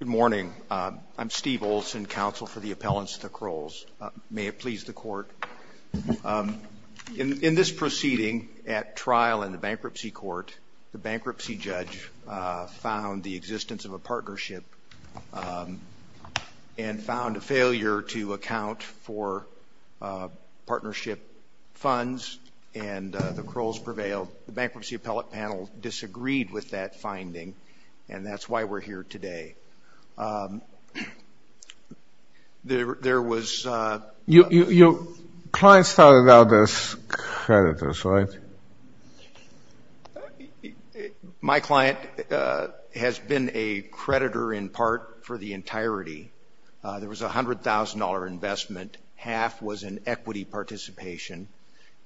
Good morning. I'm Steve Olson, Counsel for the Appellants to the Crulls. May it please the Court. In this proceeding at trial in the Bankruptcy Court, the bankruptcy judge found the existence of a partnership and found a failure to account for partnership funds and the Crulls prevailed. The bankruptcy appellate panel disagreed with that finding and that's why we're here today. There was... Your client started out as creditors, right? My client has been a creditor in part for the entirety. There was a $100,000 investment. Half was an equity participation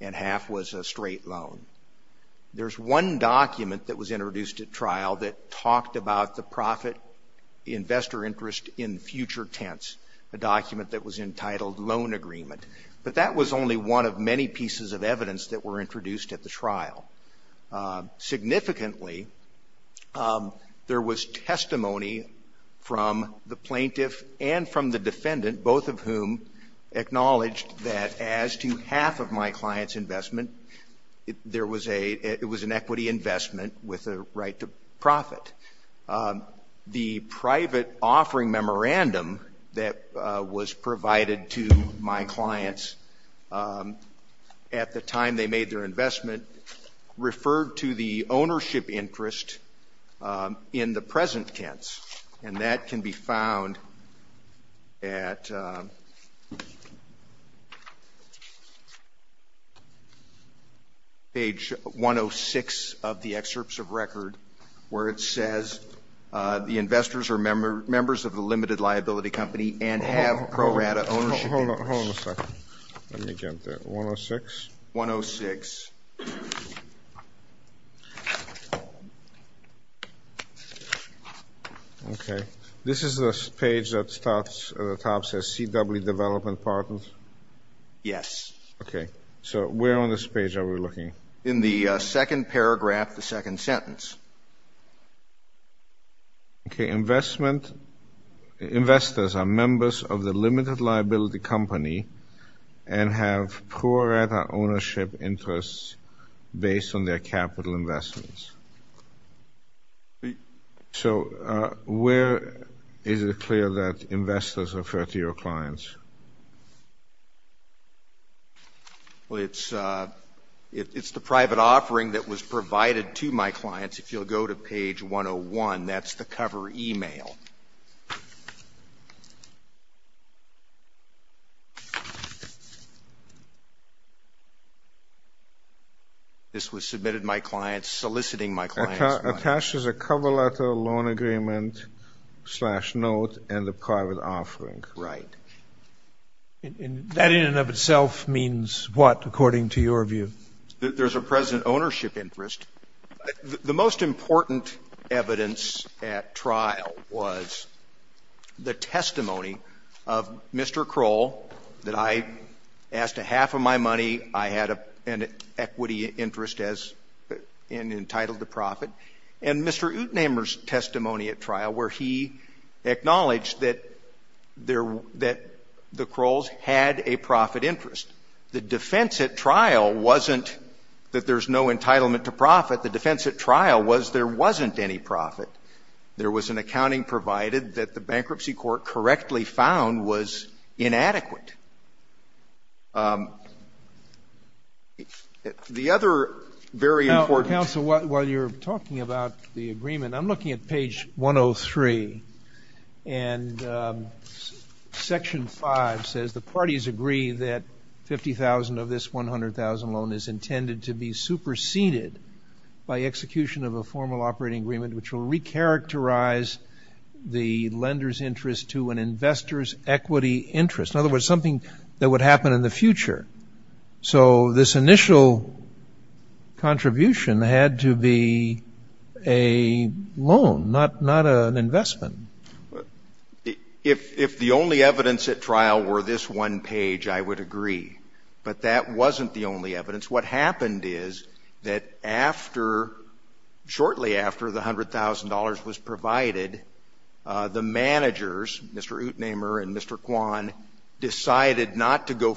and half was a straight loan. There's one document that was introduced at trial that talked about the profit investor interest in future tense, a document that was entitled loan agreement. But that was only one of many pieces of evidence that were introduced at the trial. Significantly, there was testimony from the plaintiff and from the defendant, both of whom acknowledged that as to half of my client's investment, there was a... It was an equity investment with a right to profit. The private offering memorandum that was provided to my clients at the time they made their investment referred to the ownership interest in the present tense. And that can be found at page 106 of the excerpts of record where it says the investors are members of the limited liability company and have pro rata ownership. Hold on a second. Let me get that. 106? 106. Okay. This is the page that starts at the top that says CW Development Partners? Yes. Okay. So where on this page are we looking? In the second paragraph, the second sentence. Okay. Investors are members of the limited liability company and have pro rata ownership interests based on their It's the private offering that was provided to my clients. If you'll go to page 101, that's the cover email. This was submitted to my clients, soliciting my clients. Attached as a cover letter, loan agreement, slash note, and the private offering. Right. And that in and of itself means what according to your view? There's a present ownership interest. The most important evidence at trial was the testimony of Mr. Kroll that I asked a half of my money, I had an equity interest as entitled to profit, and Mr. Utnehmer's testimony at trial where he acknowledged that the Krolls had a profit interest. The defense at trial wasn't that there's no entitlement to profit. The defense at trial was there wasn't any profit. There was an accounting provided that the Bankruptcy Court correctly found was inadequate. The other very important- Now, counsel, while you're talking about the agreement, I'm looking at page 103. And section 5 says the parties agree that $50,000 of this $100,000 loan is intended to be superseded by execution of a formal operating agreement which will recharacterize the lender's interest to an investor's equity interest. In other words, something that would happen in the future. So this initial contribution had to be a loan, not an investment. If the only evidence at trial were this one page, I would agree. But that wasn't the only evidence. What happened is that shortly after the $100,000 was provided, the managers, Mr. Utnehmer and Mr. Kwan, decided not to go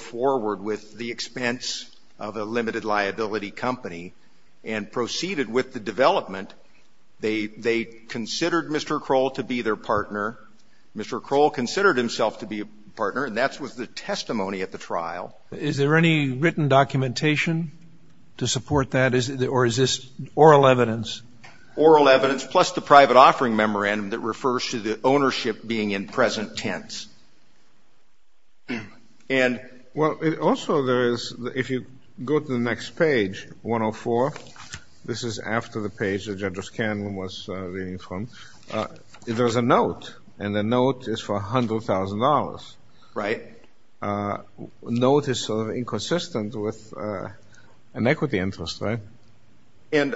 Mr. Kroll considered himself to be a partner, and that was the testimony at the trial. Is there any written documentation to support that? Or is this oral evidence? Oral evidence, plus the private offering memorandum that refers to the ownership being in present tense. Well, also there is, if you go to the next page, 104, this is after the page that Judge Scanlon was reading from, there's a note. And the note is for $100,000. Right. The note is sort of inconsistent with an equity interest, right? And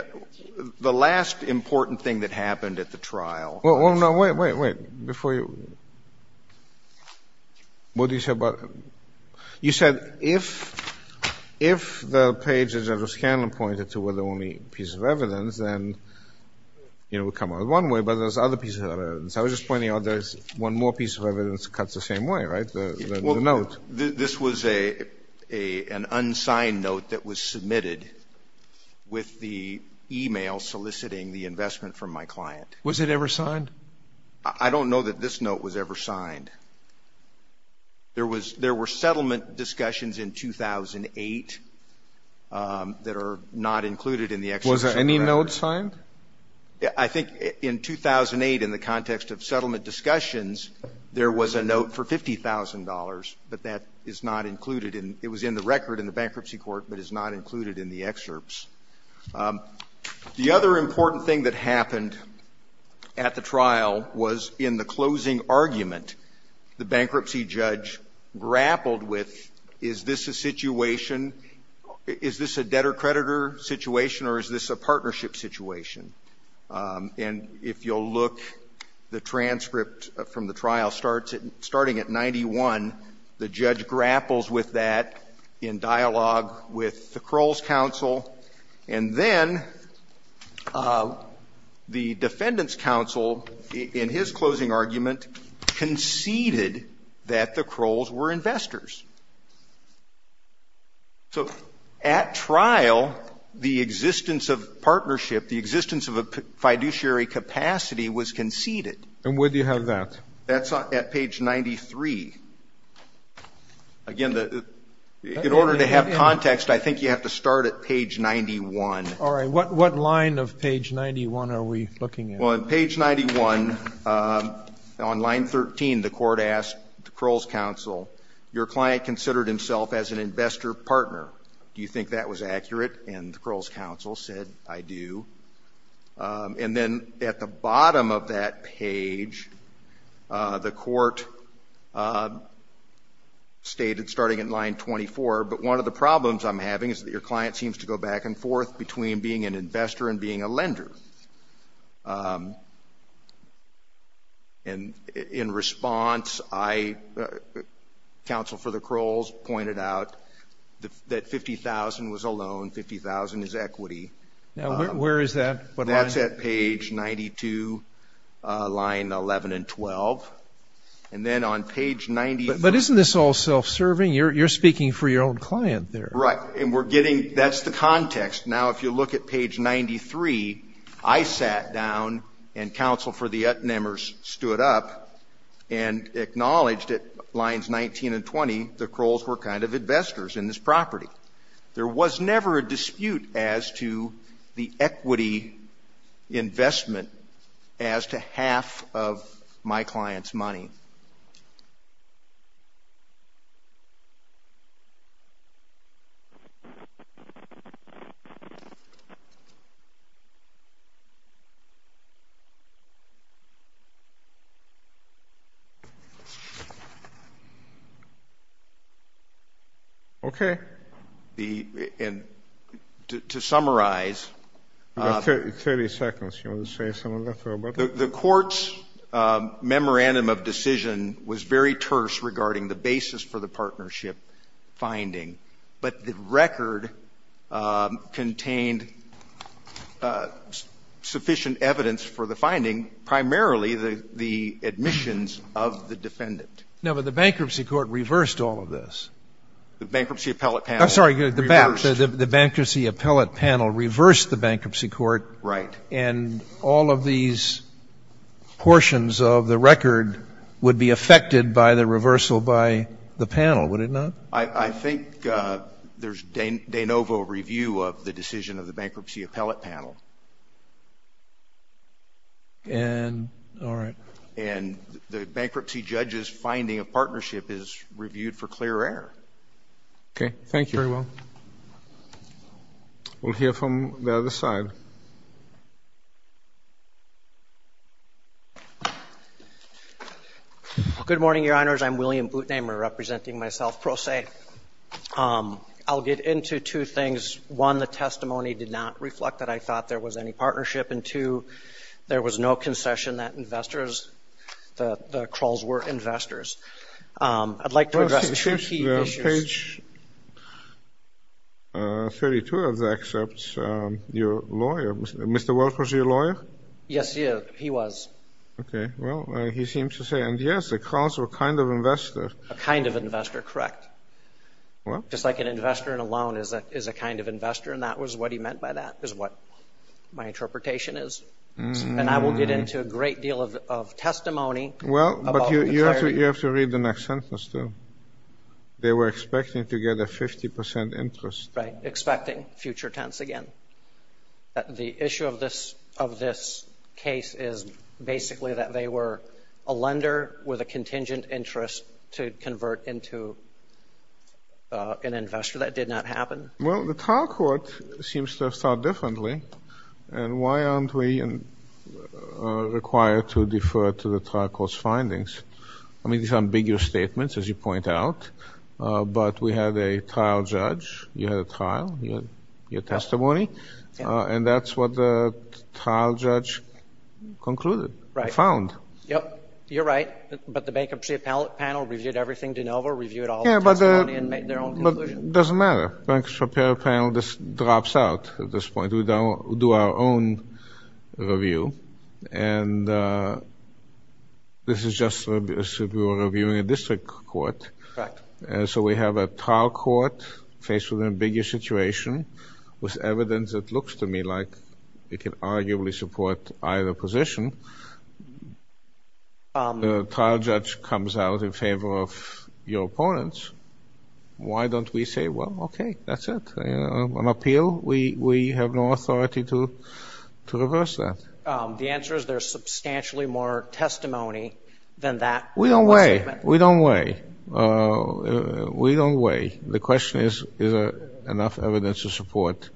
the last important thing that happened at the trial- Well, no, wait, wait, wait. Before you- What did you say about- You said if the pages that Judge Scanlon pointed to were the only piece of evidence, then it would come out one way, but there's other pieces of evidence. I was just pointing out there's one more piece of evidence that cuts the same way, right? The note. This was an unsigned note that was submitted with the email soliciting the investment from my client. Was it ever signed? I don't know that this note was ever signed. There were settlement discussions in 2008 that are not included in the excerpts of the record. Was any note signed? I think in 2008, in the context of settlement discussions, there was a note for $50,000, but that is not included in- It was in the record in the bankruptcy court, but it's not included in the excerpts. The other important thing that happened at the trial was in the closing argument, the bankruptcy judge grappled with, is this a situation- Is this a debtor-creditor situation or is this a partnership situation? And if you'll look, the transcript from the trial starts at, starting at 91, the judge grapples with that in dialogue with the Kroll's counsel. And then the defendant's counsel, in his closing argument, conceded that the Krolls were investors. So at trial, the existence of partnership, the existence of a fiduciary capacity was conceded. And where do you have that? That's at page 93. Again, in order to have context, I think you have to start at page 91. All right, what line of page 91 are we looking at? Well, on page 91, on line 13, the court asked the Kroll's counsel, your client considered himself as an investor partner. Do you think that was accurate? And the Kroll's counsel said, I do. And then at the bottom of that page, the court stated, starting in line 24, but one of the problems I'm having is that your client seems to go back and forth between being an investor and being a lender. And in response, I, counsel for the Krolls pointed out that 50,000 was a loan, 50,000 is equity. Now, where is that? That's at page 92, line 11 and 12. And then on page 93. But isn't this all self-serving? You're speaking for your own client there. Right. And we're getting, that's the context. Now, if you look at page 93, I sat down and counsel for the Utnemers stood up and acknowledged at lines 19 and 20, the Krolls were kind of investors in this property. There was never a dispute as to the equity investment as to half of my client's money. Okay. The, and to summarize. You have 30 seconds. You want to say something about that? The court's memorandum of decision was very terse regarding the basis for the partnership finding. But the record contained sufficient evidence for the finding, primarily the admissions of the defendant. No, but the bankruptcy court reversed all of this. The bankruptcy appellate panel. I'm sorry, the bankruptcy appellate panel reversed the bankruptcy court. Right. And all of these portions of the record would be affected by the reversal by the panel, would it not? I think there's de novo review of the decision of the bankruptcy appellate panel. And, all right. And the bankruptcy judge's finding of partnership is reviewed for clear error. Okay, thank you. Very well. We'll hear from the other side. Good morning, your honors. I'm William Bootenamer, representing myself, Pro Se. I'll get into two things. One, the testimony did not reflect that I thought there was any partnership. And two, there was no concession that investors, the Krolls were investors. I'd like to address two key issues. Page 32 of the excerpts, your lawyer, Mr. Welch was your lawyer? Yes, he is. He was. Okay, well, he seems to say. And, yes, the Krolls were a kind of investor. A kind of investor, correct. Well. Just like an investor in a loan is a kind of investor. And that was what he meant by that, is what my interpretation is. And I will get into a great deal of testimony. Well, but you have to read the next sentence, too. They were expecting to get a 50% interest. Right, expecting, future tense again. The issue of this case is basically that they were a lender with a contingent interest to convert into an investor. That did not happen. Well, the trial court seems to have thought differently. And why aren't we required to defer to the trial court's findings? I mean, these are ambiguous statements, as you point out. But we had a trial judge. You had a trial. Your testimony. And that's what the trial judge concluded, found. Yep, you're right. But the bankruptcy panel reviewed everything de novo, reviewed all the testimony, and made their own conclusion. Doesn't matter. Bankruptcy panel just drops out at this point. We do our own review. And this is just as if we were reviewing a district court. Correct. And so we have a trial court faced with an ambiguous situation, with evidence that looks to me like it can arguably support either position. The trial judge comes out in favor of your opponents. Why don't we say, well, okay, that's it. On appeal, we have no authority to reverse that. The answer is there's substantially more testimony than that. We don't weigh. We don't weigh. We don't weigh. The question is, is there enough evidence to support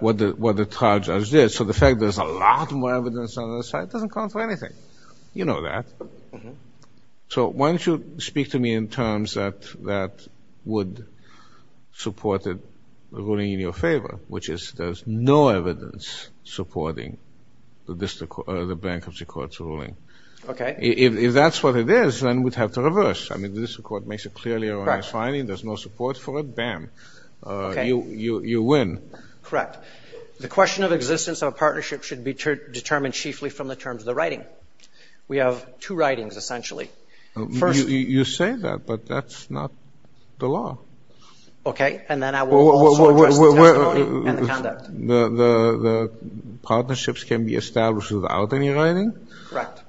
what the trial judge did? So the fact there's a lot more evidence on the other side doesn't count for anything. You know that. So why don't you speak to me in terms that would support the ruling in your favor, which is there's no evidence supporting the bankruptcy court's ruling. Okay. If that's what it is, then we'd have to reverse. I mean, the district court makes a clearly erroneous finding. There's no support for it. Bam. You win. Correct. The question of existence of a partnership should be determined chiefly from the terms of the writing. We have two writings, essentially. First- You say that, but that's not the law. Okay, and then I will also address the testimony and the conduct. The partnerships can be established without any writing? Correct.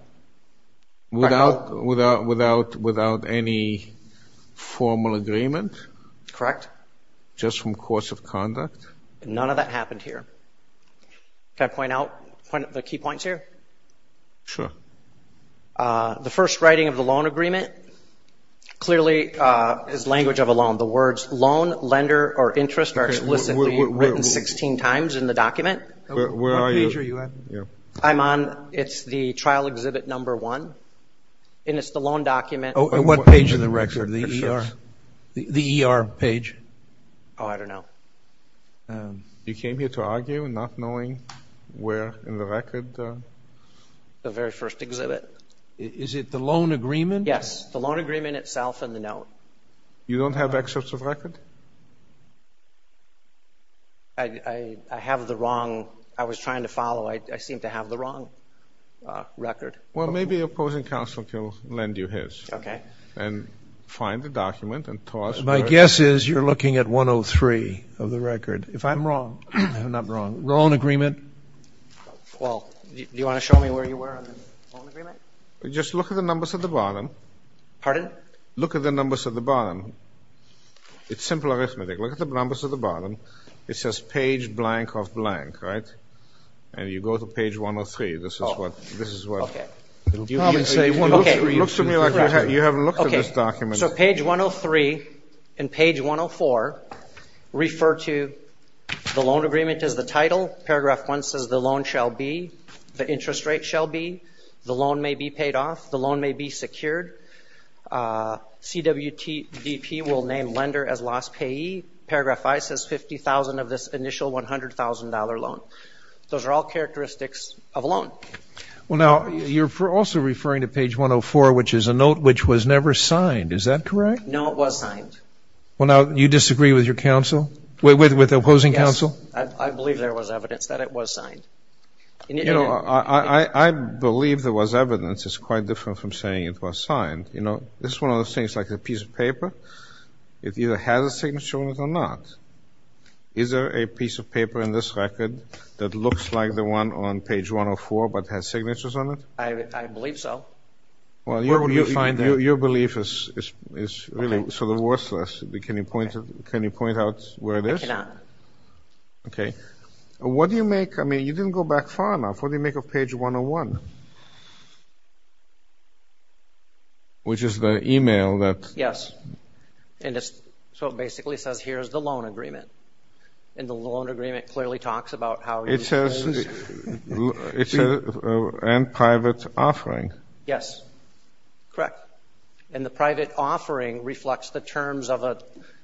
Without any formal agreement? Correct. Just from course of conduct? None of that happened here. Can I point out the key points here? Sure. The first writing of the loan agreement clearly is language of a loan. The words loan, lender, or interest are explicitly written 16 times in the document. Where are you? I'm on, it's the trial exhibit number one, and it's the loan document. Oh, and what page of the record? The ER? The ER page? Oh, I don't know. You came here to argue, not knowing where in the record? The very first exhibit. Is it the loan agreement? Yes, the loan agreement itself and the note. You don't have excerpts of record? I have the wrong. I was trying to follow. I seem to have the wrong record. Well, maybe opposing counsel can lend you his. Okay. And find the document and toss. My guess is you're looking at 103 of the record. If I'm wrong, I'm not wrong. Loan agreement? Well, do you want to show me where you were on the loan agreement? Just look at the numbers at the bottom. Pardon? Look at the numbers at the bottom. It's simple arithmetic. Look at the numbers at the bottom. It says page blank of blank, right? And you go to page 103. This is what. This is what. Okay. You can say 103. It looks to me like you haven't looked at this document. So page 103 and page 104 refer to the loan agreement as the title. Paragraph 1 says the loan shall be. The interest rate shall be. The loan may be paid off. The loan may be secured. CWTP will name lender as lost payee. Paragraph 5 says $50,000 of this initial $100,000 loan. Those are all characteristics of a loan. Well, now you're also referring to page 104, which is a note which was never signed. Is that correct? No, it was signed. Well, now you disagree with your counsel? With the opposing counsel? I believe there was evidence that it was signed. You know, I believe there was evidence. It's quite different from saying it was signed. You know, this is one of those things like a piece of paper. It either has a signature on it or not. Is there a piece of paper in this record that looks like the one on page 104, but has signatures on it? I believe so. Well, your belief is really sort of worthless. Can you point out where it is? I cannot. Okay. What do you make? I mean, you didn't go back far enough. What do you make of page 101, which is the email that? Yes. And so it basically says, here's the loan agreement. And the loan agreement clearly talks about how it's used. It says, and private offering. Yes. Correct. And the private offering reflects the terms of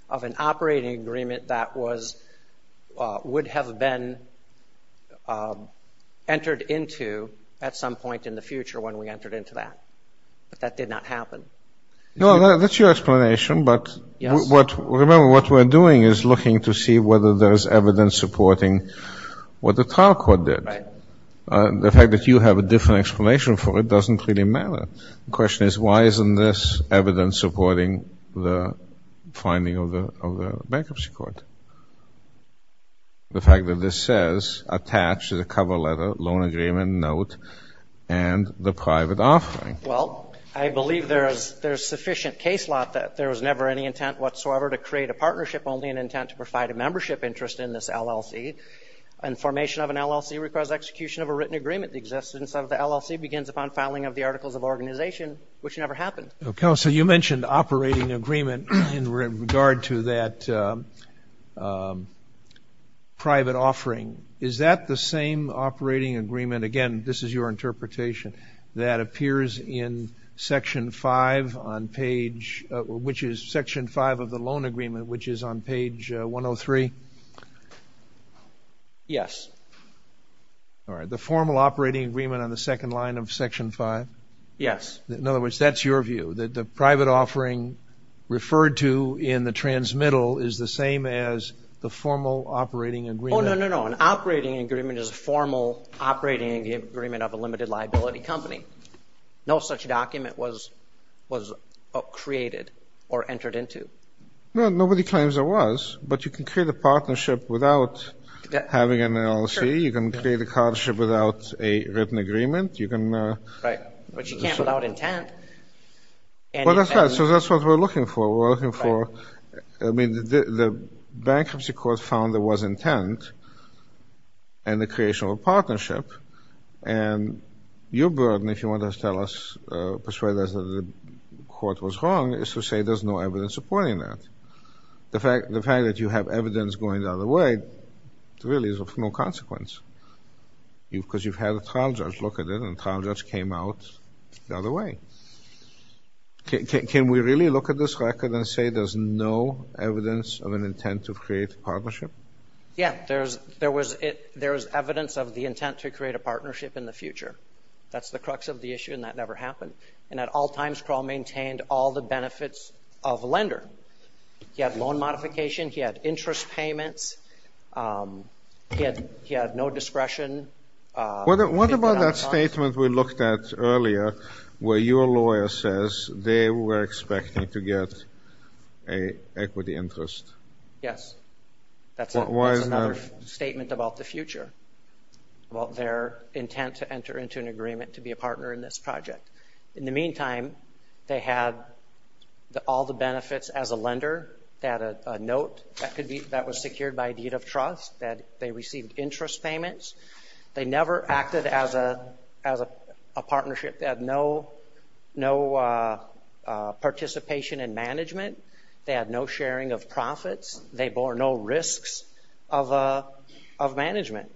an operating agreement that would have been entered into at some point in the future when we entered into that. But that did not happen. No, that's your explanation. But remember, what we're doing is looking to see whether there's evidence supporting what the trial court did. Right. The fact that you have a different explanation for it doesn't really matter. The question is, why isn't this evidence supporting the finding of the bankruptcy court? The fact that this says, attached to the cover letter, loan agreement, note, and the private offering. Well, I believe there's sufficient case law that there was never any intent whatsoever to create a partnership, only an intent to provide a membership interest in this LLC. And formation of an LLC requires execution of a written agreement. The existence of the LLC begins upon filing of the Articles of Organization, which never happened. Counsel, you mentioned operating agreement in regard to that private offering. Is that the same operating agreement? Again, this is your interpretation. That appears in Section 5 of the loan agreement, which is on page 103? Yes. All right. The formal operating agreement on the second line of Section 5? Yes. In other words, that's your view, that the private offering referred to in the transmittal is the same as the formal operating agreement? Oh, no, no, no. An operating agreement is a formal operating agreement of a limited liability company. No such document was created or entered into. Well, nobody claims there was, but you can create a partnership without having an LLC. You can create a partnership without a written agreement. You can... Right. But you can't without intent. Well, that's right. So that's what we're looking for. We're looking for... I mean, the bankruptcy court found there was intent and the creation of a partnership. And your burden, if you want to tell us, persuade us that the court was wrong, is to say there's no evidence supporting that. The fact that you have evidence going the other way really is of no consequence. Because you've had a trial judge look at it, and the trial judge came out the other way. Can we really look at this record and say there's no evidence of an intent to create a partnership? Yeah, there was evidence of the intent to create a partnership in the future. That's the crux of the issue, and that never happened. And at all times, Kroll maintained all the benefits of a lender. He had loan modification. He had interest payments. He had no discretion. What about that statement we looked at earlier, where your lawyer says they were expecting to get an equity interest? Yes. That's another statement about the future, about their intent to enter into an agreement to be a partner in this project. In the meantime, they had all the benefits as a lender. They had a note that was secured by a deed of trust, that they received interest payments. They never acted as a partnership. They had no participation in management. They had no sharing of profits. They bore no risks of management.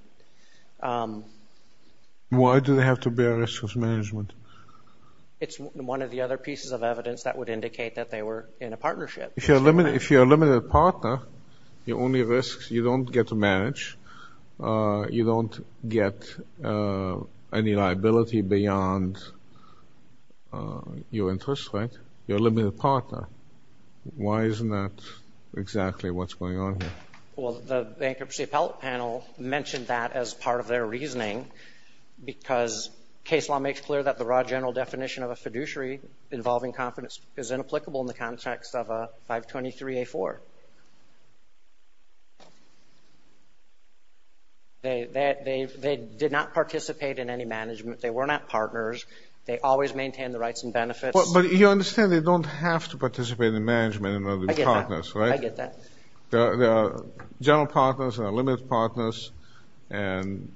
Why do they have to bear risks of management? It's one of the other pieces of evidence that would indicate that they were in a partnership. If you're a limited partner, your only risks, you don't get to manage. You don't get any liability beyond your interest rate. You're a limited partner. Why isn't that exactly what's going on here? Well, the bankruptcy appellate panel mentioned that as part of their reasoning, because case law makes clear that the raw general definition of a fiduciary involving confidence is inapplicable in the context of a 523A4. They did not participate in any management. They were not partners. They always maintained the rights and benefits. But you understand they don't have to participate in management in order to be partners, right? I get that. There are general partners, there are limited partners, and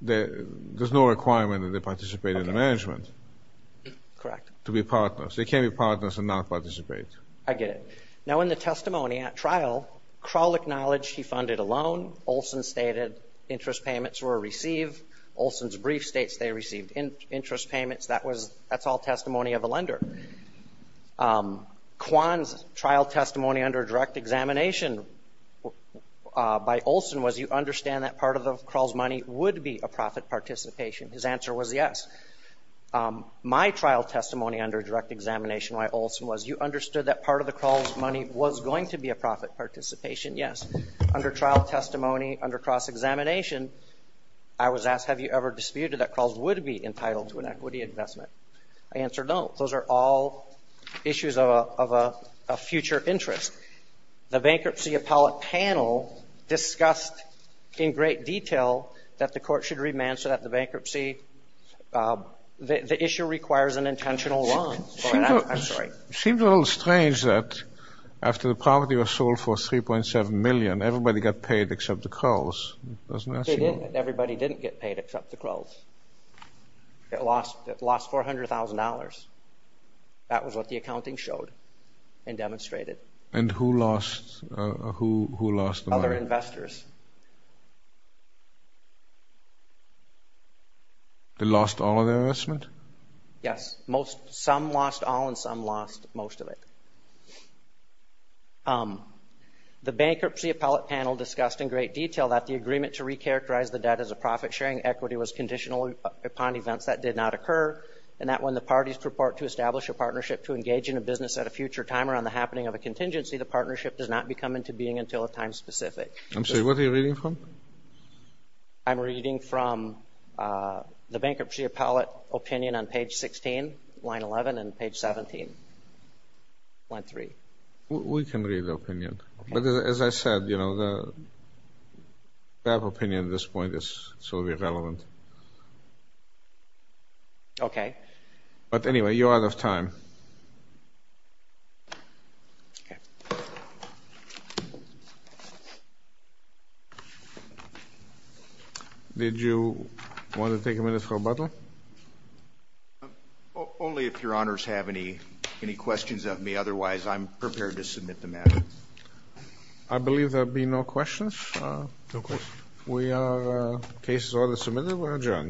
there's no requirement that they participate in the management. Correct. To be partners. They can't be partners and not participate. I get it. Now, in the testimony at trial, Kral acknowledged he funded a loan. Olson stated interest payments were received. Olson's brief states they received interest payments. That's all testimony of a lender. Kwan's trial testimony under direct examination by Olson was, you understand that part of Kral's money would be a profit participation. His answer was yes. My trial testimony under direct examination by Olson was, you understood that part of the Kral's money was going to be a profit participation. Yes. Under trial testimony under cross-examination, I was asked, have you ever disputed that Kral's would be entitled to an equity investment? I answered no. Those are all issues of a future interest. The bankruptcy appellate panel discussed in great detail that the court should remand so that the bankruptcy, the issue requires an intentional loan. Seems a little strange that after the property was sold for $3.7 million, everybody got paid except the Kral's. Everybody didn't get paid except the Kral's. It lost $400,000. That was what the accounting showed and demonstrated. And who lost the money? Other investors. They lost all of their investment? Yes. Some lost all and some lost most of it. The bankruptcy appellate panel discussed in great detail that the agreement to recharacterize the debt as a profit-sharing equity was conditional upon events that did not occur and that when the parties purport to establish a partnership to engage in a business at a future time around the happening of a contingency, the partnership does not become into being until a time specific. I'm sorry, what are you reading from? I'm reading from the bankruptcy appellate opinion on page 16, line 11, and page 17, line 3. We can read the opinion. But as I said, that opinion at this point is solely relevant. Okay. But anyway, you're out of time. Thank you. Okay. Did you want to take a minute for rebuttal? Only if your honors have any questions of me. Otherwise, I'm prepared to submit the matter. I believe there will be no questions. No questions. We are case order submitted. We're adjourned.